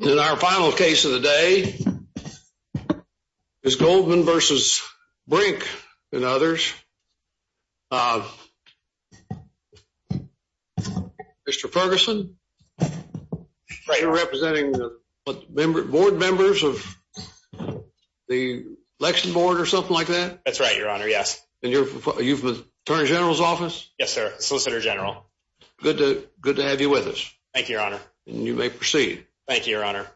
in our final case of the day is Goldman v. Brink and others. Mr. Ferguson, you're representing the board members of the election board or something like that? That's right, your honor, yes. Are you from the Attorney General's office? Yes, sir, Solicitor General. Good to have you with us. Thank you, your honor. You may proceed. Thank you, your honor.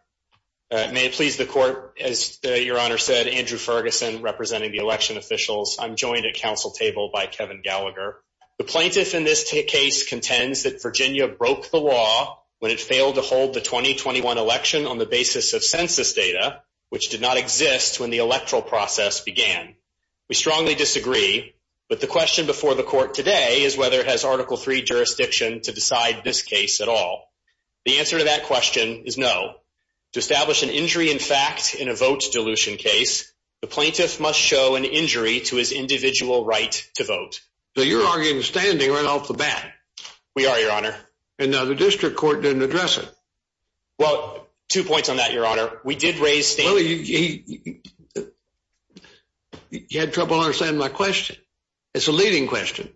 May it please the court, as your honor said, Andrew Ferguson representing the election officials. I'm joined at council table by Kevin Gallagher. The plaintiff in this case contends that Virginia broke the law when it failed to hold the 2021 election on the basis of census data, which did not exist when the electoral process began. We strongly disagree, but the question before the court today is whether it has Article 3 jurisdiction to decide this case at all. The answer to that question is no. To establish an injury in fact in a vote dilution case, the plaintiff must show an injury to his individual right to vote. So you're arguing standing right off the bat. We are, your honor. And now the district court didn't address it. Well, two points on that, your honor. We did raise... You had trouble understanding my leading question.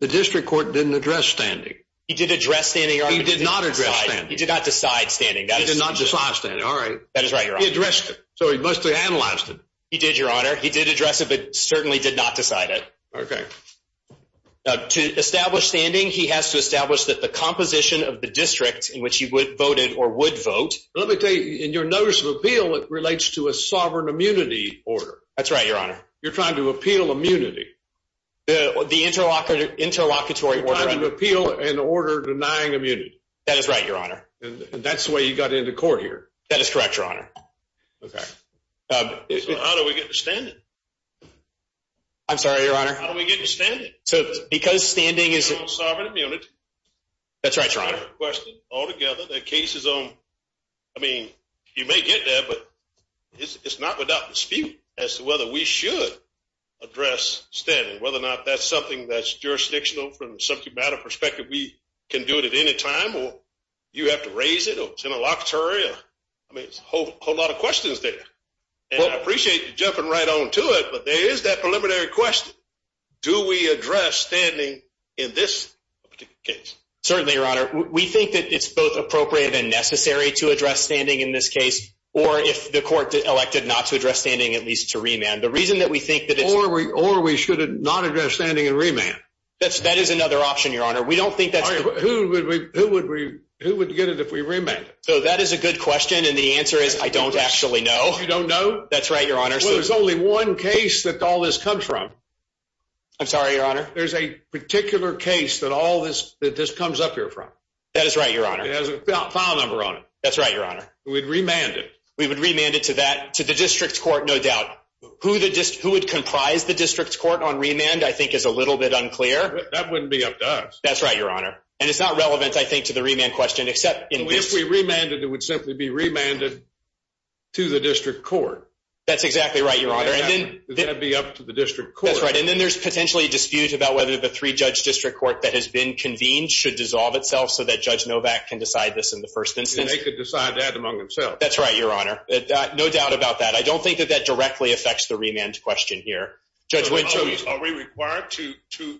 The district court didn't address standing. He did address standing. He did not address standing. He did not decide standing. He did not decide standing. All right. That is right, your honor. He addressed it, so he must have analyzed it. He did, your honor. He did address it, but certainly did not decide it. Okay. To establish standing, he has to establish that the composition of the district in which he would vote in or would vote... Let me tell you, in your notice of appeal, it relates to a sovereign immunity order. That's right, your honor. You're trying to appeal immunity. The interlocutory order. You're trying to appeal an order denying immunity. That is right, your honor. And that's the way you got into court here. That is correct, your honor. Okay. So how do we get to standing? I'm sorry, your honor. How do we get to standing? So because standing is... Sovereign immunity. That's right, your honor. I have a question. Altogether, the case is on... I mean, you cannot without dispute as to whether we should address standing, whether or not that's something that's jurisdictional from a subject matter perspective. We can do it at any time, or you have to raise it, or it's interlocutory. I mean, it's a whole lot of questions there. And I appreciate you jumping right on to it, but there is that preliminary question. Do we address standing in this particular case? Certainly, your honor. We think that it's both appropriate and necessary to address standing in this case, or if the court elected not to address standing, at least to remand. The reason that we think that it's... Or we should not address standing and remand. That is another option, your honor. We don't think that's... Who would get it if we remanded? So that is a good question, and the answer is I don't actually know. You don't know? That's right, your honor. Well, there's only one case that all this comes from. I'm sorry, your honor. There's a particular case that all this comes up here from. That is right, your honor. It has a file number on it. That's We would remand it to that... To the district court, no doubt. Who would comprise the district court on remand, I think, is a little bit unclear. That wouldn't be up to us. That's right, your honor. And it's not relevant, I think, to the remand question, except in this... If we remanded, it would simply be remanded to the district court. That's exactly right, your honor. And then... Would that be up to the district court? That's right. And then there's potentially a dispute about whether the three-judge district court that has been convened should dissolve itself so that Judge Novak can decide this in the first instance. And they could decide that among themselves. That's right, your honor. No doubt about that. I don't think that that directly affects the remand question here. Judge Winter... Are we required to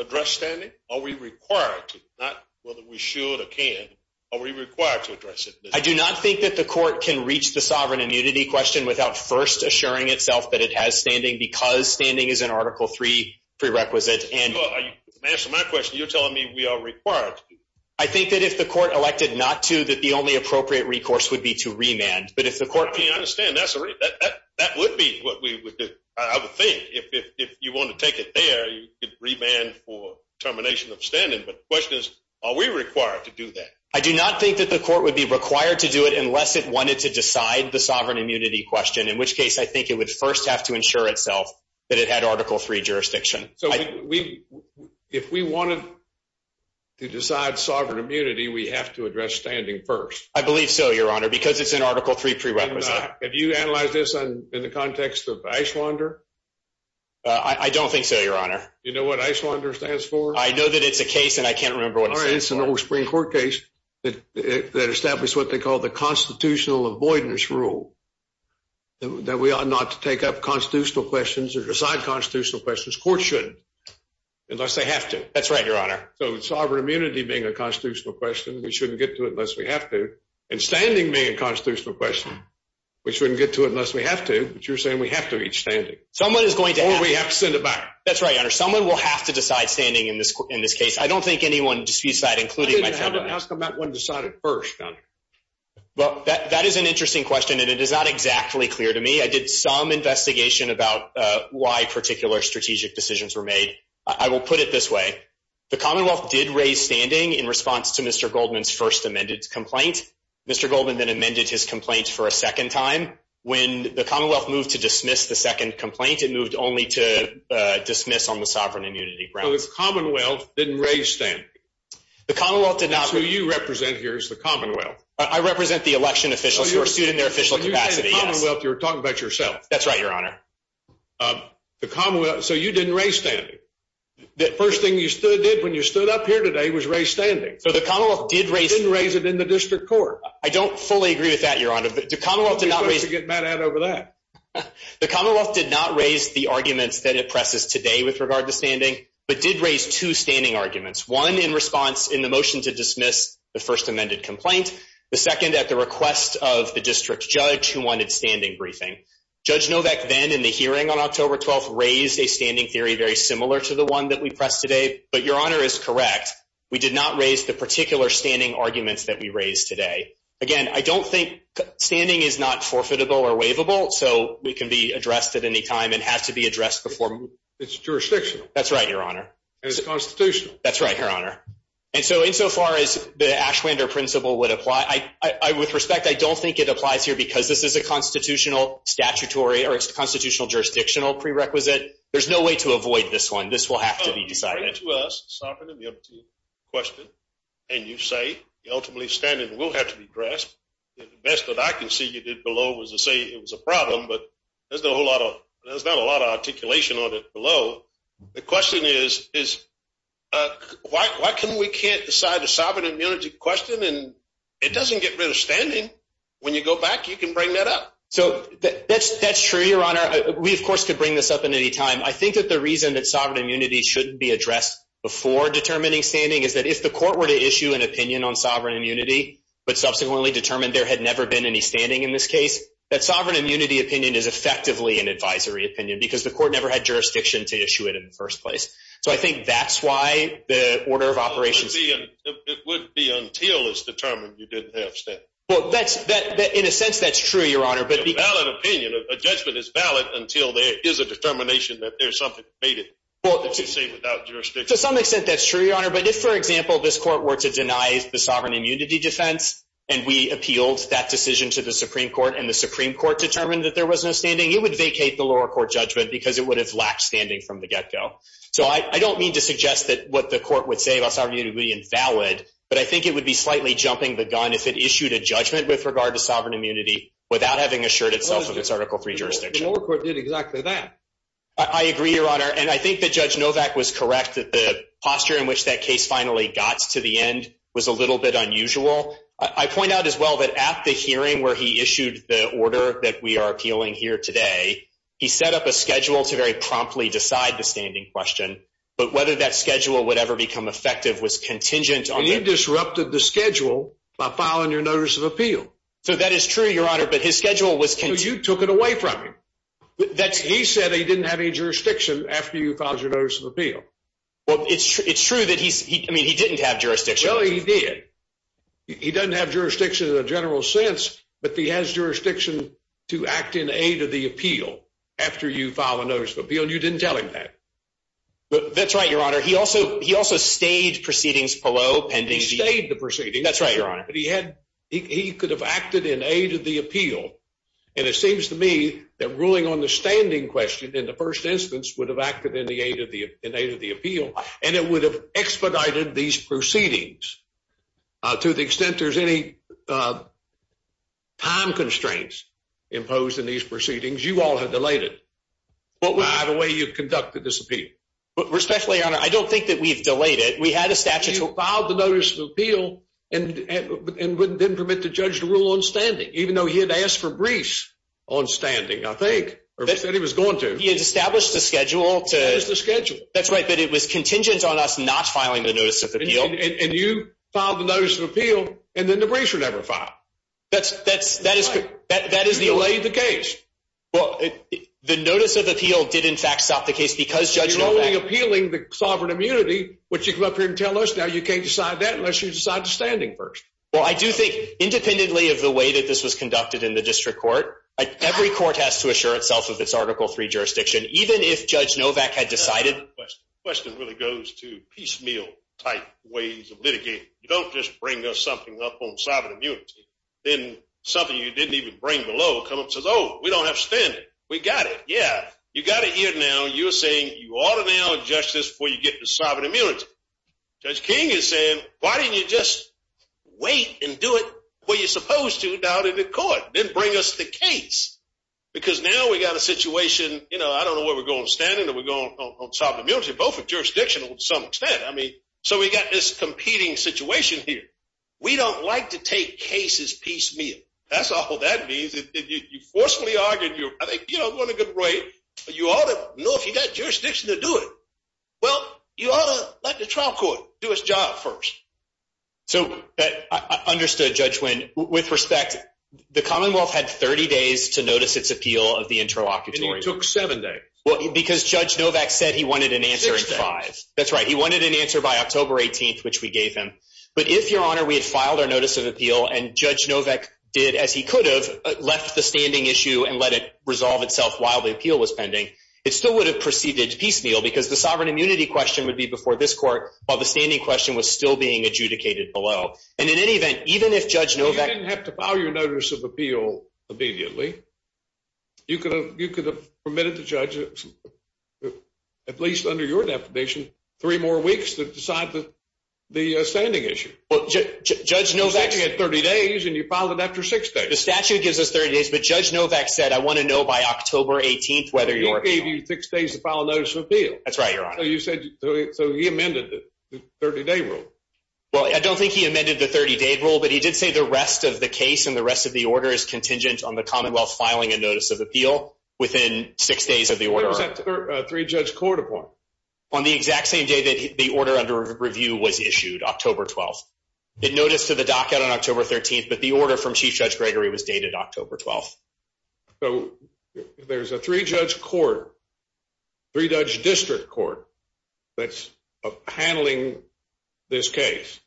address standing? Are we required to? Not whether we should or can. Are we required to address it? I do not think that the court can reach the sovereign immunity question without first assuring itself that it has standing because standing is an Article 3 prerequisite. Answer my question. You're telling me we are required to. I think that if the court elected not to, that the only appropriate recourse would be to remand. But if the court... I understand. That would be what we would do. I would think if you want to take it there, you could remand for termination of standing. But the question is, are we required to do that? I do not think that the court would be required to do it unless it wanted to decide the sovereign immunity question, in which case I think it would first have to ensure itself that it had Article 3 jurisdiction. So if we wanted to decide sovereign immunity, we have to address standing first. I believe so, Your Honor, because it's an Article 3 prerequisite. Have you analyzed this in the context of Icelander? I don't think so, Your Honor. Do you know what Icelander stands for? I know that it's a case and I can't remember what it stands for. It's an old Supreme Court case that established what they called the constitutional avoidance rule, that we ought not to take up constitutional questions or decide constitutional questions. Courts shouldn't. Unless they have to. That's right, Your Honor. So sovereign immunity being a constitutional question, we shouldn't get to it unless we have to. And standing being a constitutional question, we shouldn't get to it unless we have to. But you're saying we have to reach standing. Or we have to send it back. That's right, Your Honor. Someone will have to decide standing in this case. I don't think anyone disputes that, including myself. Ask about when to decide it first, Your Honor. Well, that is an interesting question and it is not exactly clear to me. I did some investigation about why particular strategic decisions were made. I will put it this way. The Commonwealth did raise standing in response to Mr Goldman's first amended complaint. Mr Goldman then amended his complaints for a second time. When the Commonwealth moved to dismiss the second complaint, it moved only to dismiss on the sovereign immunity ground. So the Commonwealth didn't raise standing. The Commonwealth did not. That's who you represent here is the Commonwealth. I represent the election officials who are sued in their official capacity. Yes. You The Commonwealth. So you didn't raise standing. The first thing you stood did when you stood up here today was raised standing. So the Commonwealth did raise and raise it in the district court. I don't fully agree with that, Your Honor. But the Commonwealth did not get mad at over that. The Commonwealth did not raise the arguments that it presses today with regard to standing, but did raise two standing arguments, one in response in the motion to dismiss the first amended complaint, the second at the request of the district judge who wanted standing briefing. Judge Novak then in the hearing on October 12th raised a standing theory very similar to the one that we pressed today. But Your Honor is correct. We did not raise the particular standing arguments that we raised today again. I don't think standing is not forfeitable or waivable, so we could be addressed at any time and has to be addressed before its jurisdiction. That's right, Your Honor. Constitution. That's right, Your Honor. And so insofar as the Ashlander principle would apply, I with respect, I don't think it applies here because this is a constitutional statutory or constitutional jurisdictional prerequisite. There's no way to avoid this one. This will have to be decided to us. Sovereign immunity question. And you say ultimately standing will have to be dressed. The best that I can see you did below was to say it was a problem, but there's no a lot of there's not a lot of articulation on it below. The question is, is, uh, why? Why can't we can't decide the sovereign immunity question, and it doesn't get rid of standing. When you go back, you can bring that up. So that's that's true, Your Honor. We, of course, could bring this up in any time. I think that the reason that sovereign immunity shouldn't be addressed before determining standing is that if the court were to issue an opinion on sovereign immunity but subsequently determined there had never been any standing in this case, that sovereign immunity opinion is effectively an advisory opinion because the court never had jurisdiction to issue it in the first place. So I think that's why the order of operations would be until it's determined you didn't have. Well, that's that. In a sense, that's true, Your Honor. But valid opinion. A judgment is valid until there is a determination that there's something made it without jurisdiction. To some extent, that's true, Your Honor. But if, for example, this court were to deny the sovereign immunity defense and we appealed that decision to the Supreme Court and the Supreme Court determined that there was no standing, it would vacate the lower court judgment because it would have lacked standing from the get-go. So I don't mean to suggest that what the court would say about sovereign immunity would be invalid, but I think it would be slightly jumping the gun if it issued a judgment with regard to sovereign immunity without having assured itself of its Article III jurisdiction. The lower court did exactly that. I agree, Your Honor. And I think that Judge Novak was correct that the posture in which that case finally got to the end was a little bit unusual. I point out as well that at the hearing where he issued the order that we are appealing here today, he set up a schedule to very promptly decide the standing question, but whether that schedule would ever become effective was contingent on... And you disrupted the schedule by filing your notice of appeal. So that is true, Your Honor, but his schedule was... So you took it away from him. He said he didn't have any jurisdiction after you filed your notice of appeal. Well, it's true that he's... I mean, he didn't have jurisdiction. Well, he did. He doesn't have jurisdiction in a general sense, but he has jurisdiction to act in aid of the appeal after you file a notice of appeal, and you didn't tell him that. That's right, Your Honor. He also stayed proceedings below pending... He stayed the proceedings. That's right, Your Honor. But he could have acted in aid of the appeal. And it seems to me that ruling on the standing question in the first instance would have acted in aid of the appeal, and it would have expedited these proceedings to the extent there's any time constraints imposed in these proceedings. You all have delayed it by the way you've conducted this appeal. Respectfully, Your Honor, I don't think that we've delayed it. We had a statute... You filed the notice of appeal and didn't permit the judge to rule on standing, even though he had asked for briefs on standing, I think, or said he was going to. He had established a schedule to... That is the schedule. That's right, but it was contingent on us not filing the notice of appeal. And you filed the notice of appeal, and then the briefs were never filed. That's right. You delayed the case. Well, the notice of appeal did, in fact, stop the case because Judge Novak... You're only appealing the sovereign immunity, which you come up here and tell us now you can't decide that unless you decide the standing first. Well, I do think independently of the way that this was conducted in the district court, every court has to assure itself of its Article III jurisdiction, even if Judge Novak had decided... The question really goes to piecemeal-type ways of litigating. You don't just bring us something up on sovereign immunity. Then something you didn't even bring below comes up and says, oh, we don't have standing. We got it. Yeah, you got it here now. You're saying you ought to now adjust this before you get to sovereign immunity. Judge King is saying, why didn't you just wait and do it where you're supposed to down in the court, then bring us the case? Because now we got a situation... I don't know where we're going with standing or we're going on sovereign immunity, both are jurisdictional to some extent. So we got this competing situation here. We don't like to take cases piecemeal. That's all that means. You forcefully argued... I think it wasn't a good way, but you ought to know if you got jurisdiction to do it. Well, you ought to let the trial court do its job first. So I understood, Judge Wynn. With respect, the Commonwealth had 30 days to notice its appeal of the interlocutory. It took seven days. Because Judge Novak said he wanted an answer in five. That's right. He wanted an answer by October 18th, which we gave him. But if, Your Honor, we had filed our notice of appeal and Judge Novak did as he could have left the standing issue and let it resolve itself while the appeal was pending, it still would have proceeded piecemeal because the sovereign immunity question would be before this court while the standing question was still being adjudicated below. And in any event, even if Judge Novak... You didn't have to file your notice of appeal. You could have permitted the judge, at least under your definition, three more weeks to decide the standing issue. Well, Judge Novak... You said you had 30 days and you filed it after six days. The statute gives us 30 days, but Judge Novak said, I want to know by October 18th whether your... He gave you six days to file a notice of appeal. That's right, Your Honor. So he amended the 30-day rule. Well, I don't think he amended the 30-day rule, but he did say the rest of the case and the rest of the order is contingent on the Commonwealth filing a notice of appeal within six days of the order. What was that three-judge court upon? On the exact same day that the order under review was issued, October 12th. It noticed to the docket on October 13th, but the order from Chief Judge Gregory was dated October 12th. So there's a three-judge court, three-judge district court that's handling this case.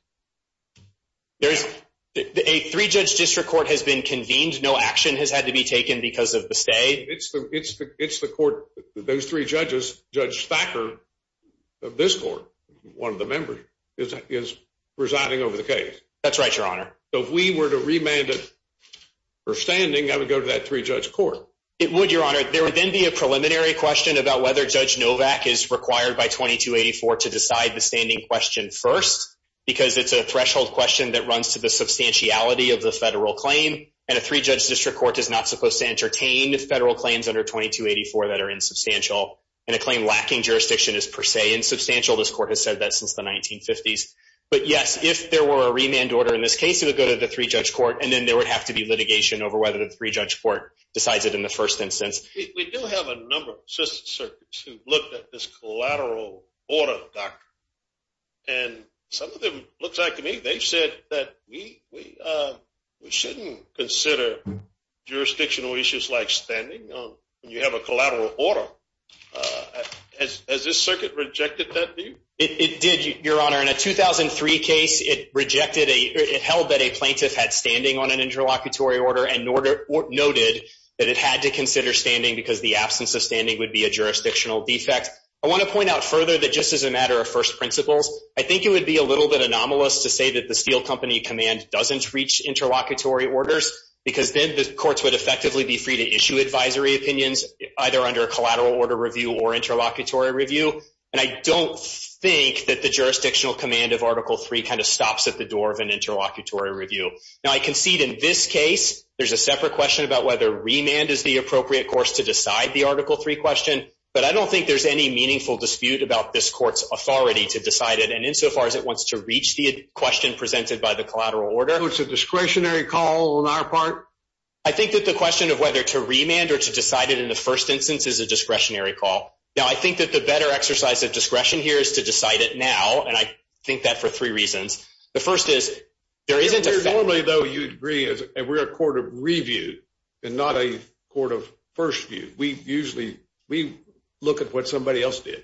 A three-judge district court has been convened. No action has had to be taken because of the stay. It's the court... Those three judges, Judge Thacker of this court, one of the members, is presiding over the case. That's right, Your Honor. So if we were to remand it for standing, I would go to that three-judge court. It would, Your Honor. There would then be a preliminary question about whether Judge Novak is required by 2284 to decide the standing question first because it's a threshold question that runs to the substantiality of the federal claim. And a three-judge district court is not supposed to entertain federal claims under 2284 that are insubstantial. And a claim lacking jurisdiction is per se insubstantial. This court has said that since the 1950s. But yes, if there were a remand order in this case, it would go to the three-judge court. And then there would have to be litigation over whether the three-judge court decides it in the first instance. We do have a number of assisted circuits who've looked at this collateral order doctrine. And some of them look back to me. They've said that we shouldn't consider jurisdictional issues like standing when you have a collateral order. Has this circuit rejected that view? It did, Your Honor. In a 2003 case, it held that a plaintiff had standing on an interlocutory order and noted that it had to consider standing because the absence of standing would be a jurisdictional defect. I want to point out further that just as a matter of first principles, I think it would be a little bit anomalous to say that the Steele Company command doesn't reach interlocutory orders because then the courts would effectively be free to issue advisory opinions either under a collateral order review or interlocutory review. And I don't think that the jurisdictional command of Article III kind of stops at the door of an interlocutory review. Now, I concede in this case, there's a separate question about whether remand is the appropriate course to decide the Article III question. But I don't think there's any meaningful dispute about this court's authority to decide it insofar as it wants to reach the question presented by the collateral order. So it's a discretionary call on our part? I think that the question of whether to remand or to decide it in the first instance is a discretionary call. Now, I think that the better exercise of discretion here is to decide it now. And I think that for three reasons. The first is, there isn't a- Normally, though, you'd agree, and we're a court of review, and not a court of first view. We usually, we look at what somebody else did.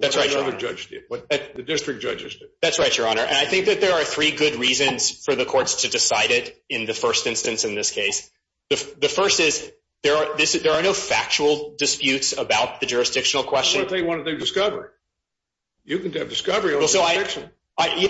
That's right, Your Honor. What another judge did, what the district judges did. That's right, Your Honor. And I think that there are three good reasons for the courts to decide it in the first instance in this case. The first is, there are no factual disputes about the jurisdictional question. Well, if they want to do discovery. You can do discovery.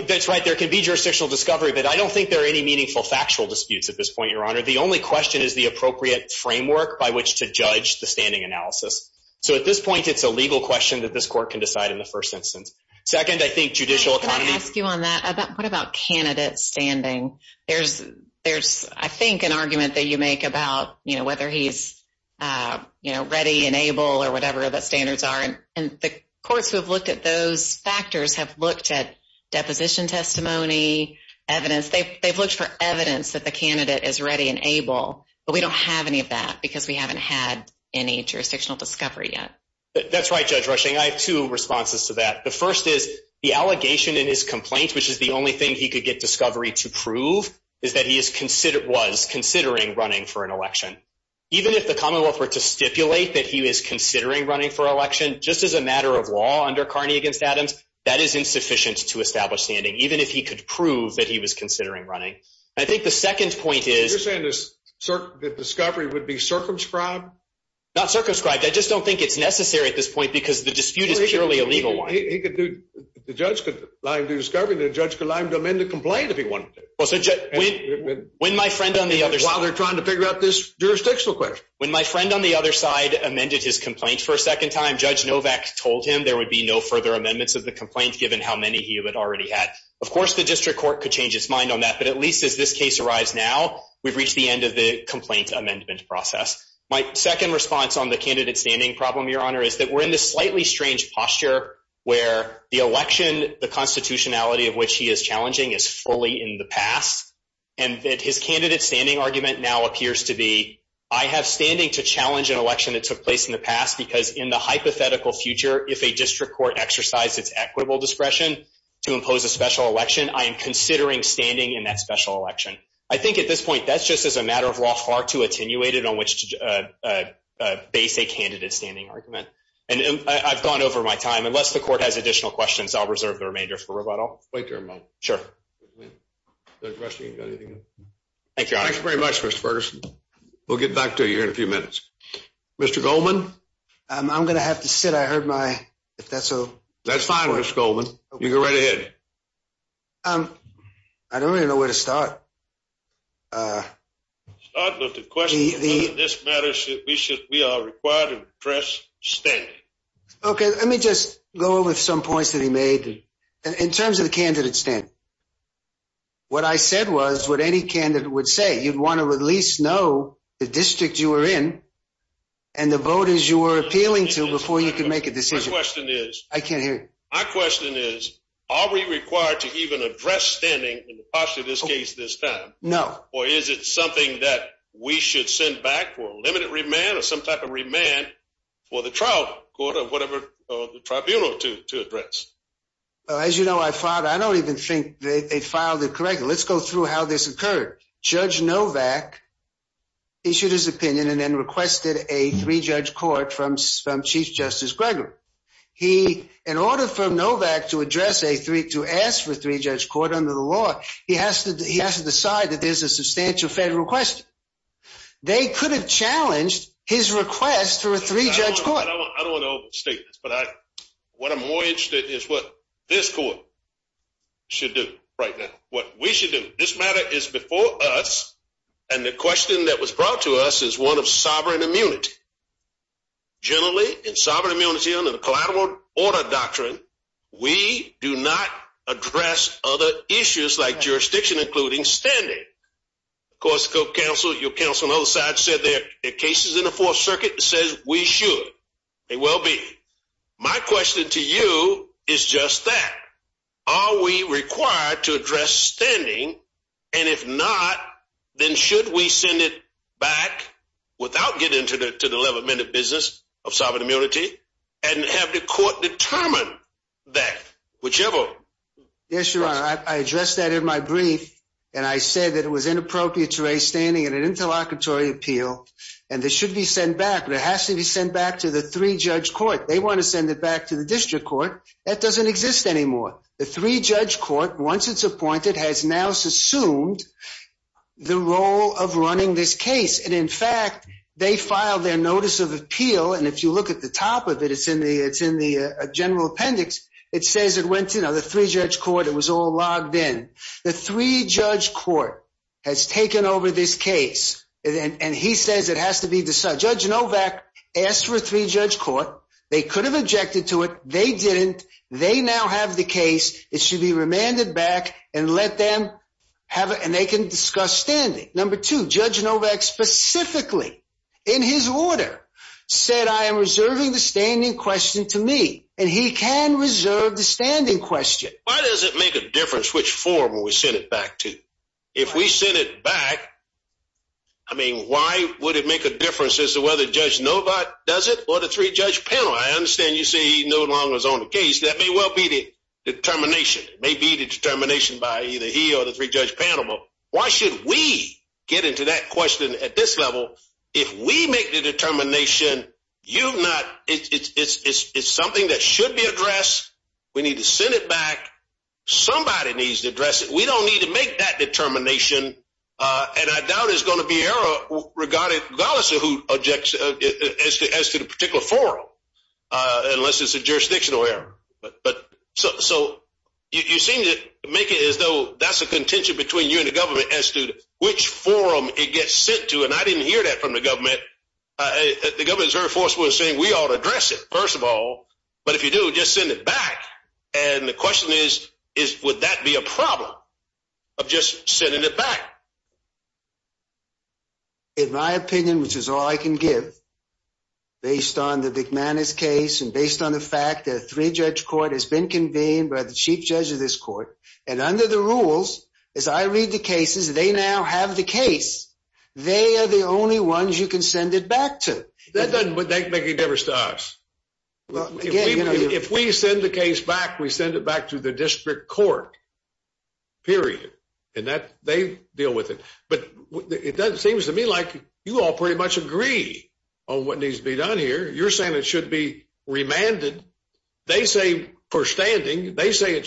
That's right, there can be jurisdictional discovery, but I don't think there are any meaningful factual disputes at this point, Your Honor. The only question is the appropriate framework by which to judge the standing analysis. So at this point, it's a legal question that this court can decide in the first instance. Second, I think judicial economy- Can I ask you on that? What about candidate standing? There's, I think, an argument that you make about whether he's ready and able, or whatever the standards are. And the courts who have looked at those factors have looked at deposition testimony, evidence. They've looked for evidence that the candidate is ready and able, but we don't have any of that because we haven't had any jurisdictional discovery yet. That's right, Judge Rushing. I have two responses to that. The first is, the allegation in his complaint, which is the only thing he could get discovery to prove, is that he was considering running for an election. Even if the commonwealth were to stipulate that he was considering running for election, just as a matter of law under Carney against Adams, that is insufficient to establish standing, even if he could prove that he was considering running. I think the second point is- You're saying that discovery would be circumscribed? Not circumscribed. I just don't think it's necessary at this point because the dispute is purely a legal one. The judge could lie and do discovery, judge could lie and amend the complaint if he wanted to. When my friend on the other side- While they're trying to figure out this jurisdictional question. When my friend on the other side amended his complaint for a second time, Judge Novak told him there would be no further amendments of the complaint given how many he had already had. Of course, the district court could change its mind on that, but at least as this case arrives now, we've reached the end of the complaint amendment process. My second response on the candidate standing problem, Your Honor, is that we're in this slightly strange posture where the election, the constitutionality of which he is challenging is fully in the past, and that his candidate standing argument now appears to be, I have standing to challenge an election that took place in the past because in the hypothetical future, if a district court exercised its equitable discretion to impose a special election, I am considering standing in that special election. I think at this point, that's just as a matter of law hard to attenuate and on which to base a candidate standing argument, and I've gone over my time. Unless the court has additional questions, I'll reserve the remainder for rebuttal. Wait there a moment. Sure. Thank you, Your Honor. Thanks very much, Mr. Ferguson. We'll get back to you in a few minutes. Mr. Goldman? I'm going to have to sit. I heard my, if that's so- That's fine, Mr. Goldman. You go right ahead. I don't really know where to start. Start with the question. In this matter, we are required to address standing. Okay. Let me just go over some points that he made in terms of the candidate standing. What I said was what any candidate would say. You'd want to at least know the district you were in and the voters you were appealing to before you could make a decision. My question is- I can't hear you. My question is, are we required to even address standing in the past, in this case, this time? No. Is it something that we should send back for a limited remand or some type of remand for the trial court or whatever tribunal to address? As you know, I filed, I don't even think they filed it correctly. Let's go through how this occurred. Judge Novak issued his opinion and then requested a three-judge court from Chief Justice Gregory. In order for Novak to address a three, to ask for three-judge court under the law, he has to decide that there's a substantial federal question. They could have challenged his request for a three-judge court. I don't want to overstate this, but what I'm more interested in is what this court should do right now, what we should do. This matter is before us, and the question that was brought to us is one of sovereign immunity. Generally, in sovereign immunity under the collateral order doctrine, we do not address other issues like jurisdiction, including standing. Of course, your counsel on the other side said there are cases in the Fourth Circuit that says we should. They will be. My question to you is just that. Are we required to address standing? If not, then should we send it back without getting into the 11-minute business of sovereign immunity, and have the court determine that, whichever? Yes, Your Honor. I addressed that in my brief, and I said that it was inappropriate to raise standing in an interlocutory appeal, and it should be sent back, but it has to be sent back to the three-judge court. They want to send it back to the district court. That doesn't exist anymore. The three-judge court, once it's appointed, has now assumed the role of running this case. In fact, they filed their notice of appeal. If you look at the top of it, it's in the general appendix. It says it went to the three-judge court. It was all logged in. The three-judge court has taken over this case, and he says it has to be decided. Judge Novak asked for a three-judge court. They could have objected to it. They didn't. They now have the case. It should be remanded back, and they can discuss standing. Number two, Judge Novak specifically, in his order, said, I am reserving the standing question to me, and he can reserve the standing question. Why does it make a difference which form we send it back to? If we send it back, I mean, why would it make a difference as to whether Judge Novak does it or the three-judge panel? I understand you say he no longer is on the case. That may well be the determination. It may be the determination by either he or the three-judge panel, but why should we get into that question at this level? If we make the determination, it's something that should be addressed. We need to send it back. Somebody needs to address it. We don't need to make that determination, and I doubt there's going to be error regardless as to the particular forum, unless it's a jurisdictional error. So you seem to make it as though that's a contention between you and the government which forum it gets sent to, and I didn't hear that from the government. The government is very forceful in saying we ought to address it, first of all, but if you do, just send it back. And the question is, would that be a problem of just sending it back? In my opinion, which is all I can give, based on the McManus case and based on the fact that a three-judge court has been convened by the chief judge of this court, and under the rules, as I read the cases, they now have the case. They are the only ones you can send it back to. That doesn't make any difference to us. If we send the case back, we send it back to the district court, period, and they deal with it. But it seems to me like you all pretty much agree on what needs to be done here. You're saying it should be remanded. They say for standing. They say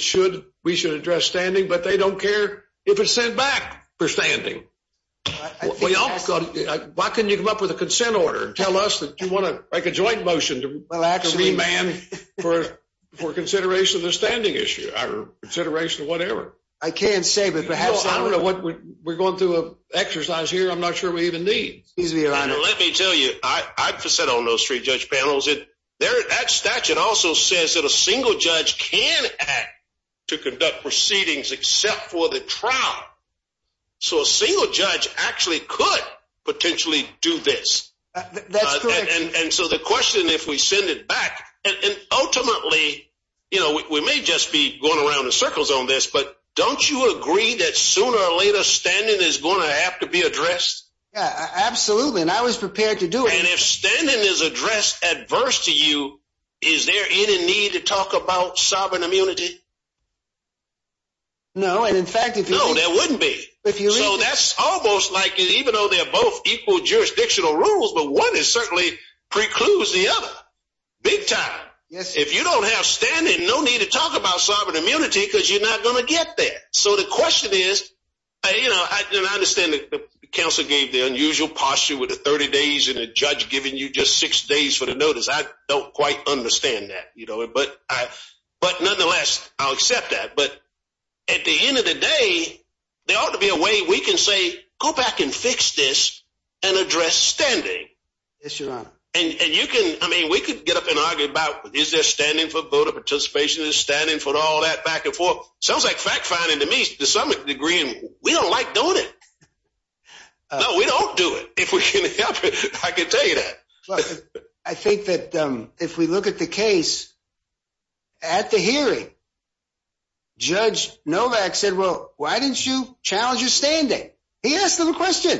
we should address standing, but they don't care if it's sent back for standing. Why can't you come up with a consent order and tell us that you want to make a joint motion to remand for consideration of the standing issue or consideration of whatever? I can't say. We're going through an exercise here I'm not sure we even need. Let me tell you, I've sat on those three-judge panels. That statute also says that a single judge can act to conduct proceedings except for the trial. So a single judge actually could potentially do this. And so the question if we send it back, and ultimately, you know, we may just be going around in circles on this, but don't you agree that sooner or later standing is going to have to be addressed? Absolutely. And I was prepared to do it. If standing is addressed adverse to you, is there any need to talk about sovereign immunity? No, and in fact, no, there wouldn't be. So that's almost like even though they're both equal jurisdictional rules, but one is certainly precludes the other. Big time. If you don't have standing, no need to talk about sovereign immunity because you're not going to get there. So the question is, you know, I understand that the counsel gave the unusual posture with the 30 days and a judge giving you just six days for the notice. I don't quite understand that, you know, but I but nonetheless, I'll accept that. But at the end of the day, there ought to be a way we can say, go back and fix this and address standing. Yes, Your Honor. And you can I mean, we could get up and argue about is there standing for voter participation is standing for all that back and forth. Sounds like fact finding to me to some degree, and we don't like doing it. No, we don't do it. If we can help it. I can tell you that. I think that if we look at the case. At the hearing. Judge Novak said, well, why didn't you challenge your standing? He asked them a question.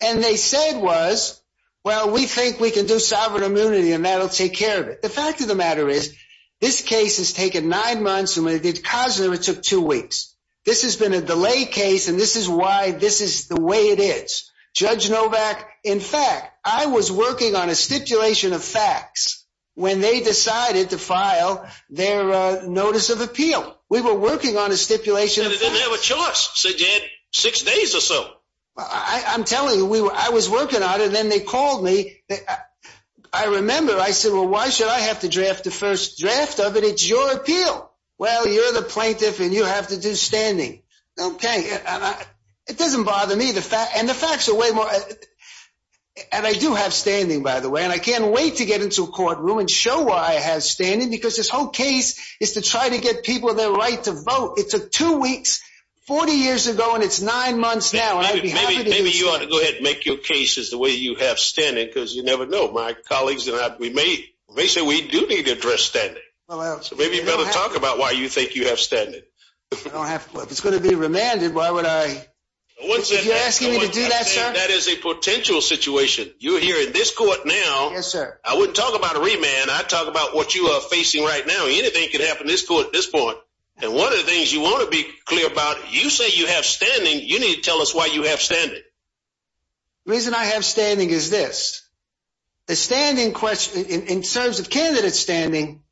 And they said was, well, we think we can do sovereign immunity and that'll take care of it. The fact of the matter is, this case has taken nine months. And we did cause them. It took two weeks. This has been a delay case. And this is why this is the way it is. Judge Novak. In fact, I was working on a stipulation of facts when they decided to file their notice of appeal. We were working on a stipulation. They didn't have a choice. So they had six days or so. I'm telling you, we were I was working on it. And then they called me. I remember I said, well, why should I have to draft the first draft of it? It's your appeal. Well, you're the plaintiff and you have to do standing. Okay. It doesn't bother me. The fact and the facts are way more. And I do have standing, by the way, and I can't wait to get into a courtroom and show why I have standing because this whole case is to try to get people their right to vote. It took two weeks, 40 years ago, and it's nine months now. Maybe you ought to go ahead and make your cases the way you have standing because you never know. My colleagues and I, we may say we do need to address standing. So maybe you better talk about why you think you have standing. It's going to be remanded. Why would I? That is a potential situation. You're here in this court now. Yes, sir. I wouldn't talk about a remand. I talk about what you are facing right now. Anything could happen in this court at this point. And one of the things you want to be clear about, you say you have standing. You need to tell us why you have standing. The reason I have standing is this. The standing question, in terms of candidate standing,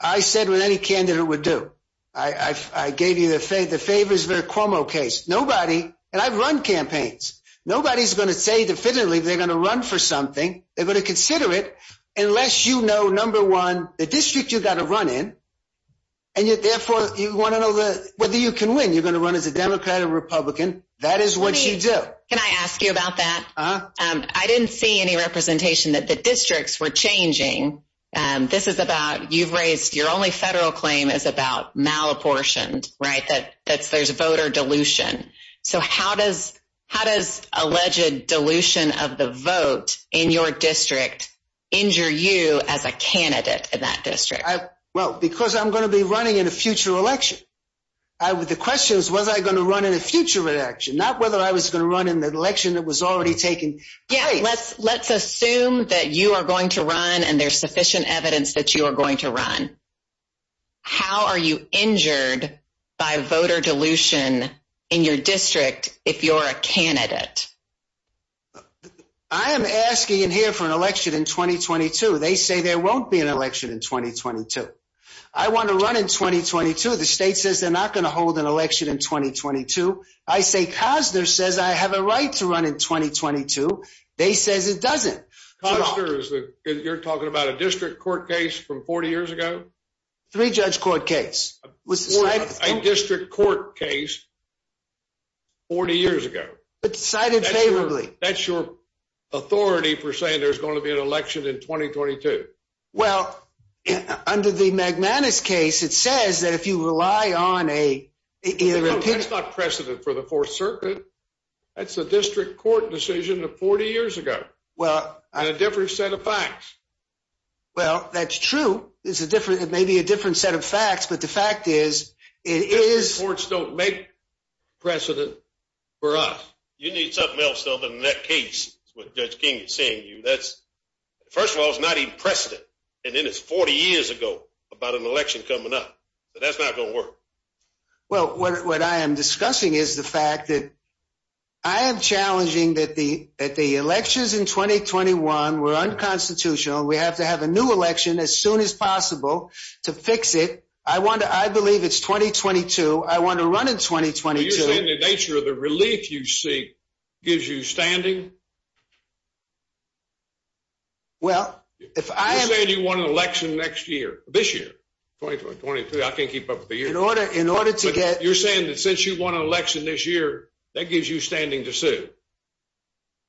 I said what any candidate would do. I gave you the favors Vercomo case. Nobody, and I've run campaigns. Nobody's going to say definitively they're going to run for something. They're going to consider it unless you know, number one, the district you got to run in. And yet, therefore, you want to know whether you can win. You're going to run as a Democrat or Republican. That is what you do. Can I ask you about that? I didn't see any representation that the districts were changing. This is about you've raised your only federal claim is about malapportioned, right, that there's voter dilution. So how does how does alleged dilution of the vote in your district injure you as a candidate in that district? Well, because I'm going to be running in a future election. The question is, was I going to run in a future election, not whether I was going to run in the election that was already taken? Yeah, let's let's assume that you are going to run and there's sufficient evidence that you are going to run. How are you injured by voter dilution in your district if you're a candidate? I am asking in here for an election in 2022. They say there won't be an election in 2022. I want to run in 2022. The state says they're not going to hold an election in 2022. I say Cozner says I have a right to run in 2022. They says it doesn't. You're talking about a district court case from 40 years ago. Three judge court case was a district court case. 40 years ago, but cited favorably. That's your authority for saying there's going to be an election in 2022. Well, under the Magmanus case, it says that if you rely on a precedent for the Fourth Circuit, that's a district court decision of 40 years ago. Well, I had a different set of facts. Well, that's true. It's a different it may be a different set of facts. But the fact is, it is courts don't make precedent for us. You need something else, though, than that case with Judge King saying you that's first of all, it's not even precedent. And then it's 40 years ago about an election coming up. That's not going to work. Well, what I am discussing is the fact that. I am challenging that the that the elections in 2021 were unconstitutional. We have to have a new election as soon as possible to fix it. I want to I believe it's 2022. I want to run in 2022. The nature of the relief you see gives you standing. Well, if I say you want an election next year, this year, I can't keep up with the year in order in order to get you're saying that since you won an election this year, that gives you standing to sue.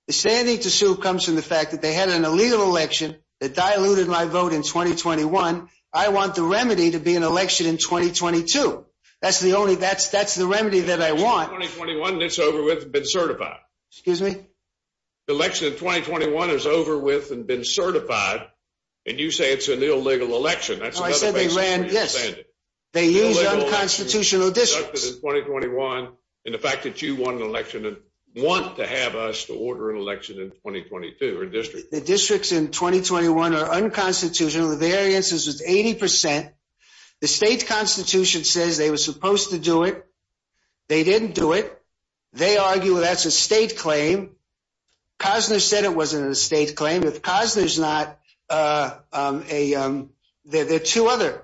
The standing to sue comes from the fact that they had an illegal election that diluted my vote in 2021. I want the remedy to be an election in 2022. That's the only that's that's the remedy that I want. In 2021, it's over with been certified. Excuse me. The election in 2021 is over with and been certified. And you say it's an illegal election. I said they ran. Yes, they use unconstitutional districts in 2021. And the fact that you won an election and want to have us to order an election in 2022 or district districts in 2021 are unconstitutional. The variances is 80 percent. The state constitution says they were supposed to do it. They didn't do it. They argue that's a state claim. Cosner said it wasn't a state claim. Cosner's not a there are two other.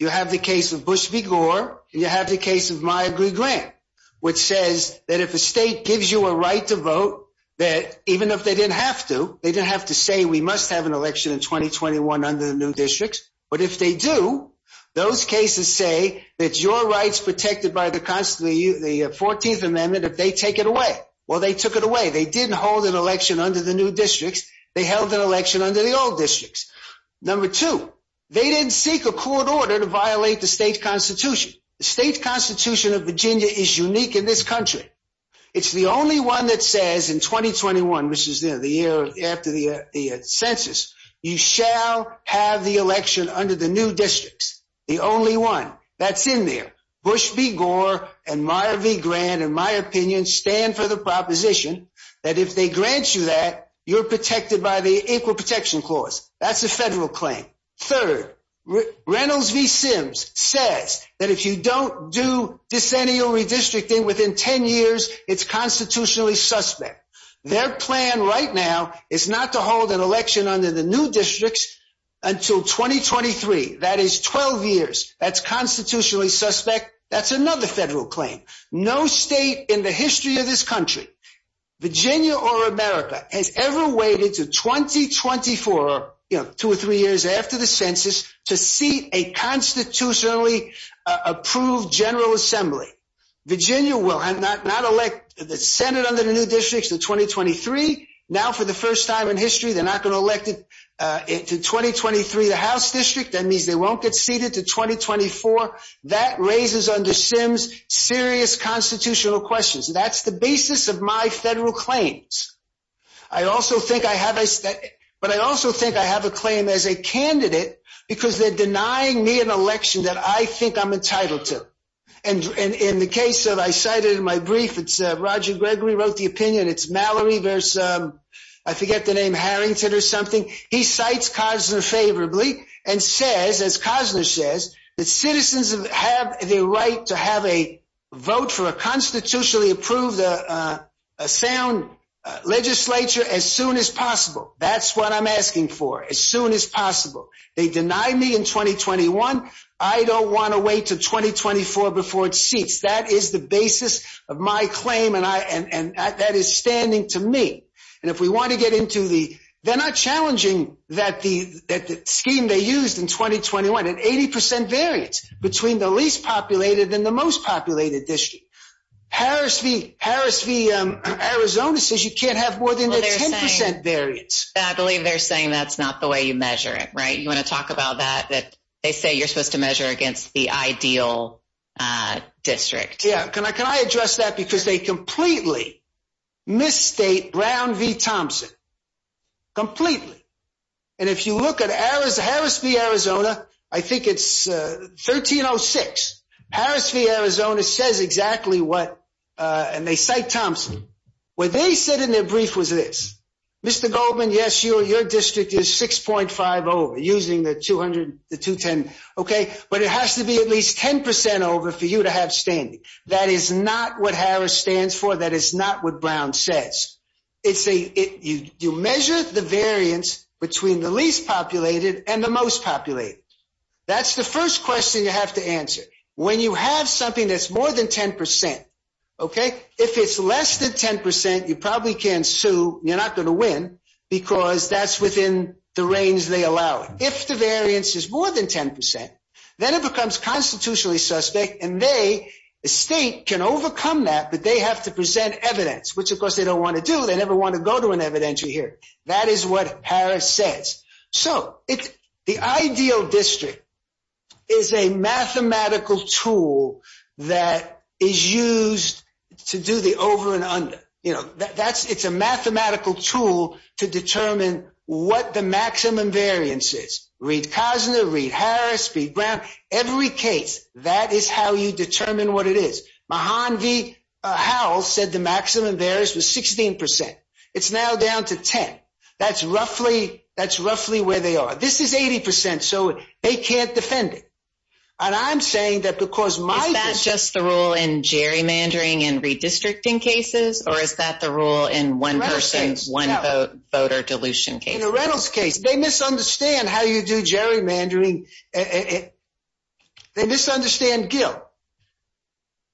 You have the case of Bush v. Gore. You have the case of my agree grant, which says that if a state gives you a right to vote, that even if they didn't have to, they didn't have to say we must have an election in 2021 under the new districts. But if they do, those cases say that your rights protected by the constitution, the 14th Amendment, if they take it away, well, they took it away. They didn't hold an election under the new districts. They held an election under the old districts. Number two, they didn't seek a court order to violate the state constitution. The state constitution of Virginia is unique in this country. It's the only one that says in 2021, which is the year after the census, you shall have the election under the new districts. The only one that's in there. Bush v. Gore and Meyer v. Grant, in my opinion, stand for the proposition that if they grant you that you're protected by the Equal Protection Clause. That's a federal claim. Third, Reynolds v. Sims says that if you don't do decennial redistricting within 10 years, it's constitutionally suspect. Their plan right now is not to hold an election under the new districts until 2023. That is 12 years. That's constitutionally suspect. That's another federal claim. No state in the history of this country, Virginia or America, has ever waited to 2024, two or three years after the census, to seat a constitutionally approved General Assembly. Virginia will not elect the Senate under the new districts to 2023. Now, for the first time in history, they're not going to elect it to 2023, the House district. That means they won't get seated to 2024. That raises, under Sims, serious constitutional questions. That's the basis of my federal claims. But I also think I have a claim as a candidate because they're denying me an election that I think I'm entitled to. And in the case that I cited in my brief, it's Roger Gregory wrote the opinion. It's Mallory v. I forget the name, Harrington or something. He cites Cosner favorably and says, as Cosner says, that citizens have the right to have a vote for a constitutionally approved sound legislature as soon as possible. That's what I'm asking for, as soon as possible. They deny me in 2021. I don't want to wait to 2024 before it seats. That is the basis of my claim and that is standing to me. And if we want to get into the they're not challenging that the scheme they used in 2021 and 80 percent variance between the least populated and the most populated district. Harris v. Harris v. Arizona says you can't have more than 10 percent variance. I believe they're saying that's not the way you measure it, right? You want to talk about that? That they say you're supposed to measure against the ideal district. Can I address that? Because they completely misstate Brown v. Thompson. Completely. And if you look at Harris v. Arizona, I think it's 1306. Harris v. Arizona says exactly what and they cite Thompson. What they said in their brief was this. Mr. Goldman, yes, your district is 6.5 over using the 200 to 210. OK, but it has to be at least 10 percent over for you to have standing. That is not what Harris stands for. That is not what Brown says. It's a you measure the variance between the least populated and the most populated. That's the first question you have to answer when you have something that's more than 10 percent. OK, if it's less than 10 percent, you probably can sue. You're not going to win because that's within the range they allow it. If the variance is more than 10 percent, then it becomes constitutionally suspect. And they state can overcome that. But they have to present evidence, which, of course, they don't want to do. They never want to go to an evidentiary here. That is what Harris says. So it's the ideal district is a mathematical tool that is used to do the over and under. You know, that's it's a mathematical tool to determine what the maximum variance is. Harris, Brown, every case. That is how you determine what it is. Mahan V. Howell said the maximum variance was 16 percent. It's now down to 10. That's roughly that's roughly where they are. This is 80 percent. So they can't defend it. And I'm saying that because my that's just the rule in gerrymandering and redistricting cases, or is that the rule in one person, one voter dilution case in the Reynolds case? They misunderstand how you do gerrymandering. They misunderstand Gil.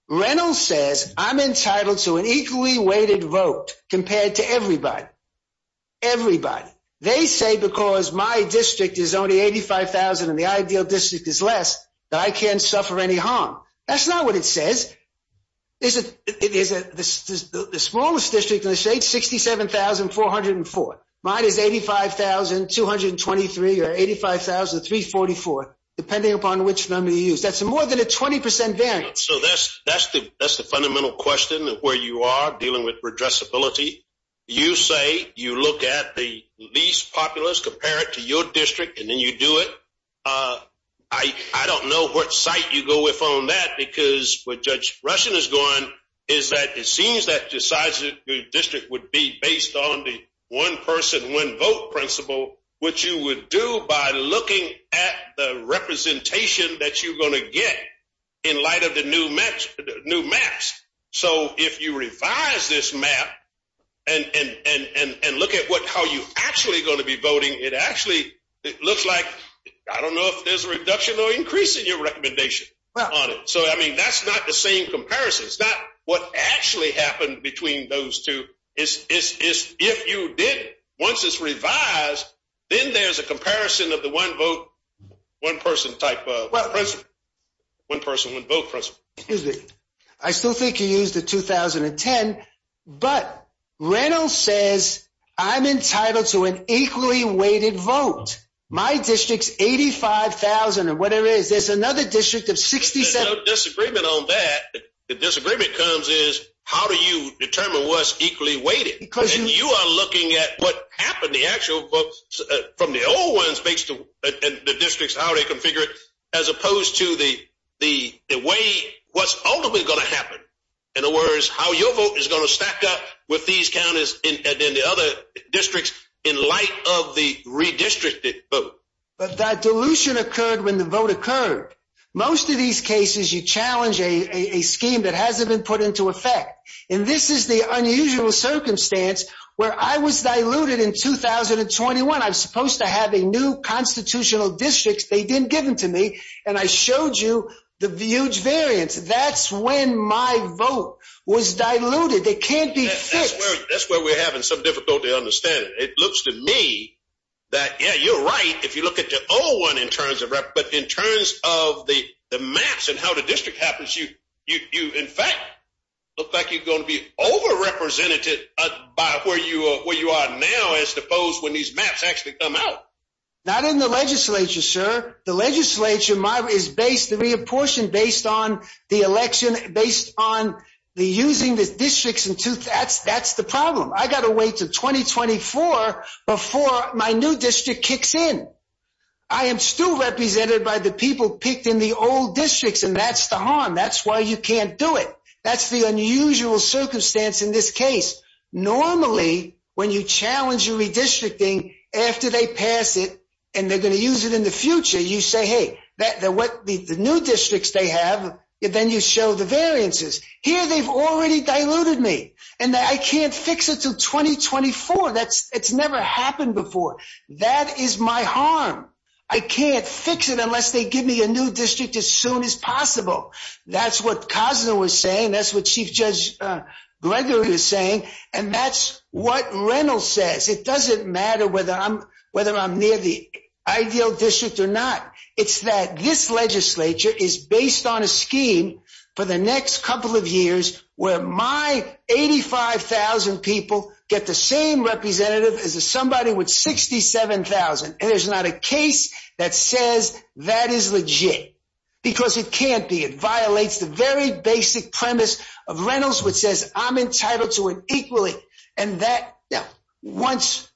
Reynolds says I'm entitled to an equally weighted vote compared to everybody. Everybody. They say because my district is only 85,000 and the ideal district is less, that I can't suffer any harm. That's not what it says. Is it is it the smallest district in the state? Sixty seven thousand four hundred and four. Mine is eighty five thousand two hundred and twenty three or eighty five thousand three forty four, depending upon which number you use. That's more than a 20 percent variance. So that's that's the that's the fundamental question of where you are dealing with redress ability. You say you look at the least populous, compare it to your district and then you do it. Uh, I I don't know what site you go with on that, because what Judge Russian is going is that it seems that decides that your district would be based on the one person, one vote principle, which you would do by looking at the representation that you're going to get in light of the new match, the new maps. So if you revise this map and and and look at what how you actually going to be voting, it actually looks like I don't know if there's a reduction or increase in your recommendation on it. So, I mean, that's not the same comparison. It's not what actually happened between those two. It's it's it's if you did once it's revised, then there's a comparison of the one vote, one person type of one person would vote. Is it? I still think you use the 2010, but Reynolds says I'm entitled to an equally weighted vote. My district's 85,000 or whatever it is. There's another district of 67 disagreement on that. The disagreement comes is how do you determine what's equally weighted because you are looking at what happened? The actual books from the old ones based on the districts, how they configure it, as opposed to the the the way what's ultimately going to happen and the words, how your vote is going to stack up with these counties and the other districts in light of the redistricted vote. But that dilution occurred when the vote occurred. Most of these cases, you challenge a scheme that hasn't been put into effect. And this is the unusual circumstance where I was diluted in 2021. I'm supposed to have a new constitutional district. They didn't give them to me. And I showed you the huge variance. That's when my vote was diluted. They can't be. That's where we're having some difficulty understanding. It looks to me that, yeah, you're right. If you look at the old one in terms of rep, but in terms of the maps and how the district happens, you, you, you, in fact, look like you're going to be overrepresented by where you are, where you are now, as opposed when these maps actually come out. Not in the legislature, sir. The legislature is based, reapportioned based on the election, based on the using the districts in two, that's, that's the problem. I got to wait to 2024 before my new district kicks in. I am still represented by the people picked in the old districts, and that's the harm. That's why you can't do it. That's the unusual circumstance in this case. Normally, when you challenge your redistricting after they pass it, and they're going to use it in the future, you say, hey, the new districts they have, then you show the variances. Here, they've already diluted me, and I can't fix it till 2024. That's, it's never happened before. That is my harm. I can't fix it unless they give me a new district as soon as possible. That's what Cosner was saying. That's what Chief Judge Gregory was saying. And that's what Reynolds says. It doesn't matter whether I'm, whether I'm near the ideal district or not. It's that this legislature is based on a scheme for the next couple of years where my 85,000 people get the same representative as somebody with 67,000. And there's not a case that says that is legit. Because it can't be. It violates the very basic premise of Reynolds, which says I'm entitled to it equally. And that, once,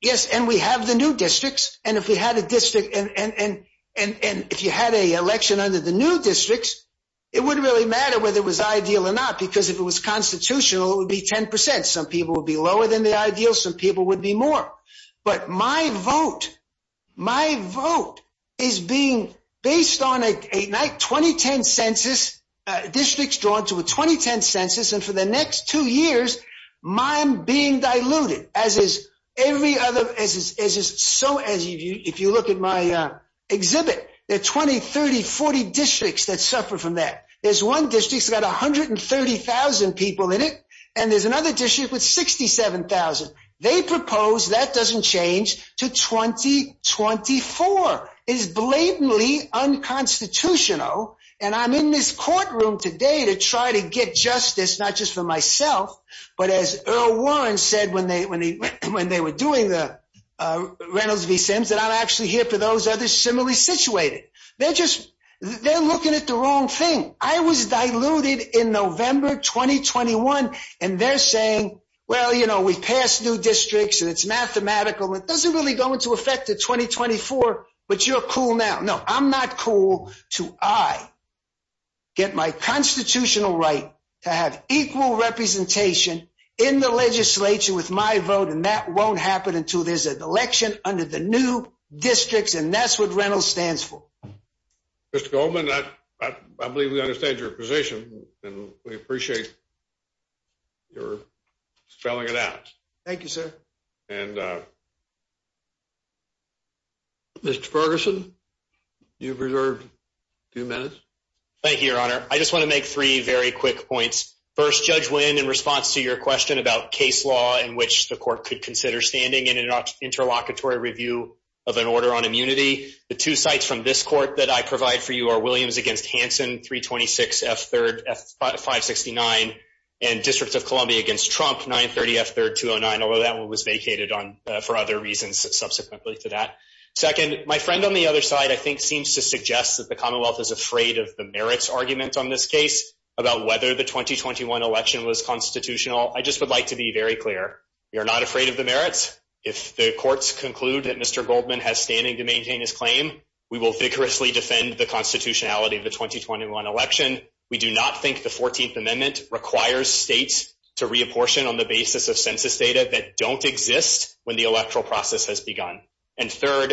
yes, and we have the new districts. And if we had a district, and if you had an election under the new districts, it wouldn't really matter whether it was ideal or not. Because if it was constitutional, it would be 10%. Some people would be lower than the ideal. Some people would be more. But my vote, my vote is being based on a 2010 census, districts drawn to a 2010 census. And for the next two years, mine being diluted. As is every other, as is so, if you look at my exhibit, there are 20, 30, 40 districts that suffer from that. There's one district that's got 130,000 people in it. And there's another district with 67,000. They propose that doesn't change to 2024. It is blatantly unconstitutional. And I'm in this courtroom today to try to get justice, not just for myself, but as Earl Warren said when they were doing the Reynolds v. Sims, that I'm actually here for those others similarly situated. They're just, they're looking at the wrong thing. I was diluted in November 2021. And they're saying, well, you know, we passed new districts and it's mathematical. It doesn't really go into effect to 2024. But you're cool now. No, I'm not cool to I get my constitutional right to have equal representation in the legislature with my vote. And that won't happen until there's an election under the new districts. And that's what Reynolds stands for. Mr. Goldman, I believe we understand your position. And we appreciate your spelling it out. Thank you, sir. And Mr. Ferguson, you've reserved two minutes. Thank you, Your Honor. I just want to make three very quick points. First, Judge Wynn, in response to your question about case law in which the court could consider standing in an interlocutory review of an order on immunity, the two sites from this court that I provide for you are Williams against Hansen, 326 F-569, and Districts of Columbia against Trump, 930 F-309, although that one was vacated on for other reasons subsequently to that. Second, my friend on the other side, I think, seems to suggest that the Commonwealth is afraid of the merits argument on this case about whether the 2021 election was constitutional. I just would like to be very clear. We are not afraid of the merits. If the courts conclude that Mr. Goldman has standing to maintain his claim, we will vigorously defend the constitutionality of the 2021 election. We do not think the 14th Amendment requires states to reapportion on the basis of census data that don't exist when the electoral process has begun. And third,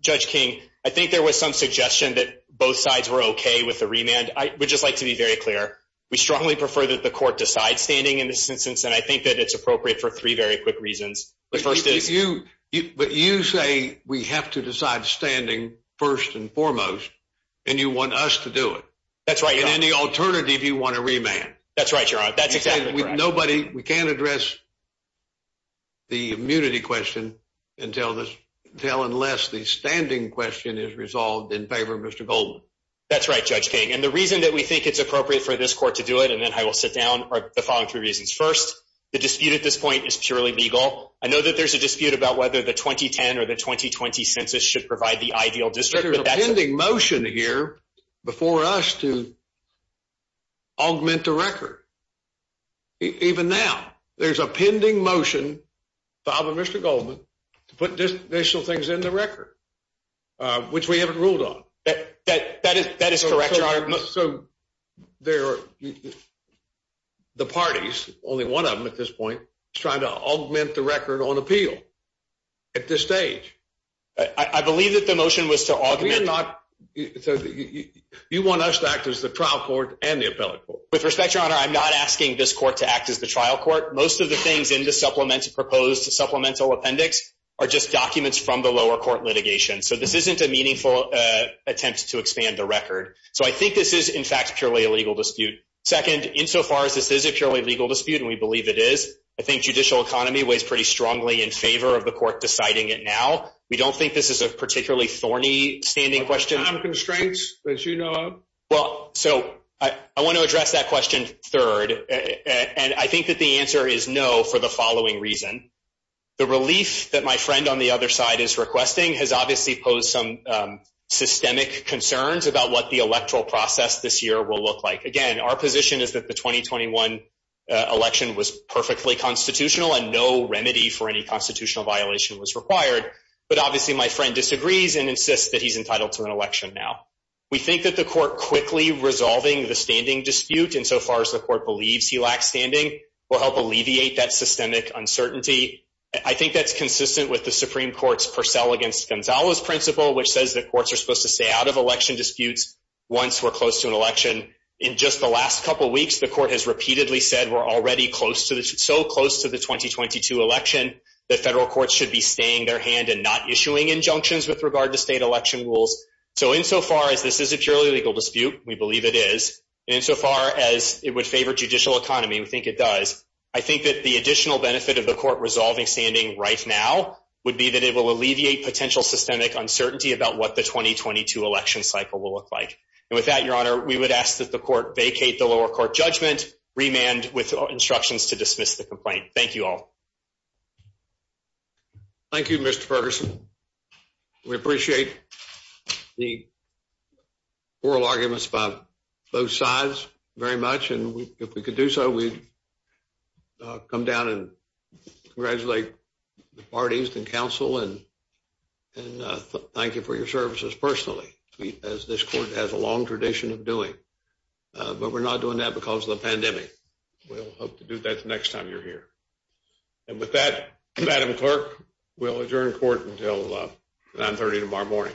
Judge King, I think there was some suggestion that both sides were OK with the remand. I would just like to be very clear. We strongly prefer that the court decide standing in this instance, and I think that it's appropriate for three very quick reasons. First, if you but you say we have to decide standing first and foremost and you want us to do it. That's right. In any alternative, you want to remand. That's right. You're right. That's exactly nobody. We can't address. The immunity question until this tell unless the standing question is resolved in favor of Mr. Goldman. That's right, Judge King, and the reason that we think it's appropriate for this court to do it and then I will sit down or the following three reasons. First, the dispute at this point is purely legal. I know that there's a dispute about whether the 2010 or the 2020 census should provide the ideal district, but that's pending motion here before us to. Augment the record. Even now, there's a pending motion by Mr. Goldman to put this initial things in the record, which we haven't ruled on that. That is that is correct. So there are. The parties, only one of them at this point, trying to augment the record on appeal. At this stage, I believe that the motion was to augment not. You want us to act as the trial court and the appellate court with respect to honor. I'm not asking this court to act as the trial court. Most of the things in the supplement to proposed supplemental appendix are just documents from the lower court litigation. So this isn't a meaningful attempt to expand the record. So I think this is, in fact, purely a legal dispute. Second, insofar as this is a purely legal dispute, and we believe it is, I think judicial economy weighs pretty strongly in favor of the court deciding it. Now, we don't think this is a particularly thorny standing question of constraints, as you know. Well, so I want to address that question third, and I think that the answer is no for the following reason. The relief that my friend on the other side is requesting has obviously posed some systemic concerns about what the electoral process this year will look like. Again, our position is that the 2021 election was perfectly constitutional, and no remedy for any constitutional violation was required. But obviously, my friend disagrees and insists that he's entitled to an election now. We think that the court quickly resolving the standing dispute, insofar as the court believes he lacks standing, will help alleviate that systemic uncertainty. I think that's consistent with the Supreme Court's Purcell against Gonzalo's principle, which says that courts are supposed to stay out of election disputes once we're close to an election. In just the last couple weeks, the court has repeatedly said we're already so close to the 2022 election that federal courts should be staying their hand and not issuing injunctions with regard to state election rules. So insofar as this is a purely legal dispute, we believe it is, and insofar as it would favor judicial economy, we think it does, I think that the additional benefit of the court resolving standing right now would be that it will alleviate potential systemic uncertainty about what the 2022 election cycle will look like. And with that, Your Honor, we would ask that the court vacate the lower court judgment, remand with instructions to dismiss the complaint. Thank you all. Thank you, Mr. Ferguson. We appreciate the oral arguments by both sides very much, and if we could do so, we'd come down and congratulate the parties and counsel and thank you for your services personally, as this court has a long tradition of doing. But we're not doing that because of the pandemic. We'll hope to do that next time you're here. And with that, Madam Clerk, we'll adjourn court until 930 tomorrow morning.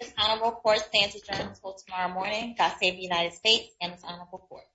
This honorable court stands adjourned until tomorrow morning. God save the United States and this honorable court.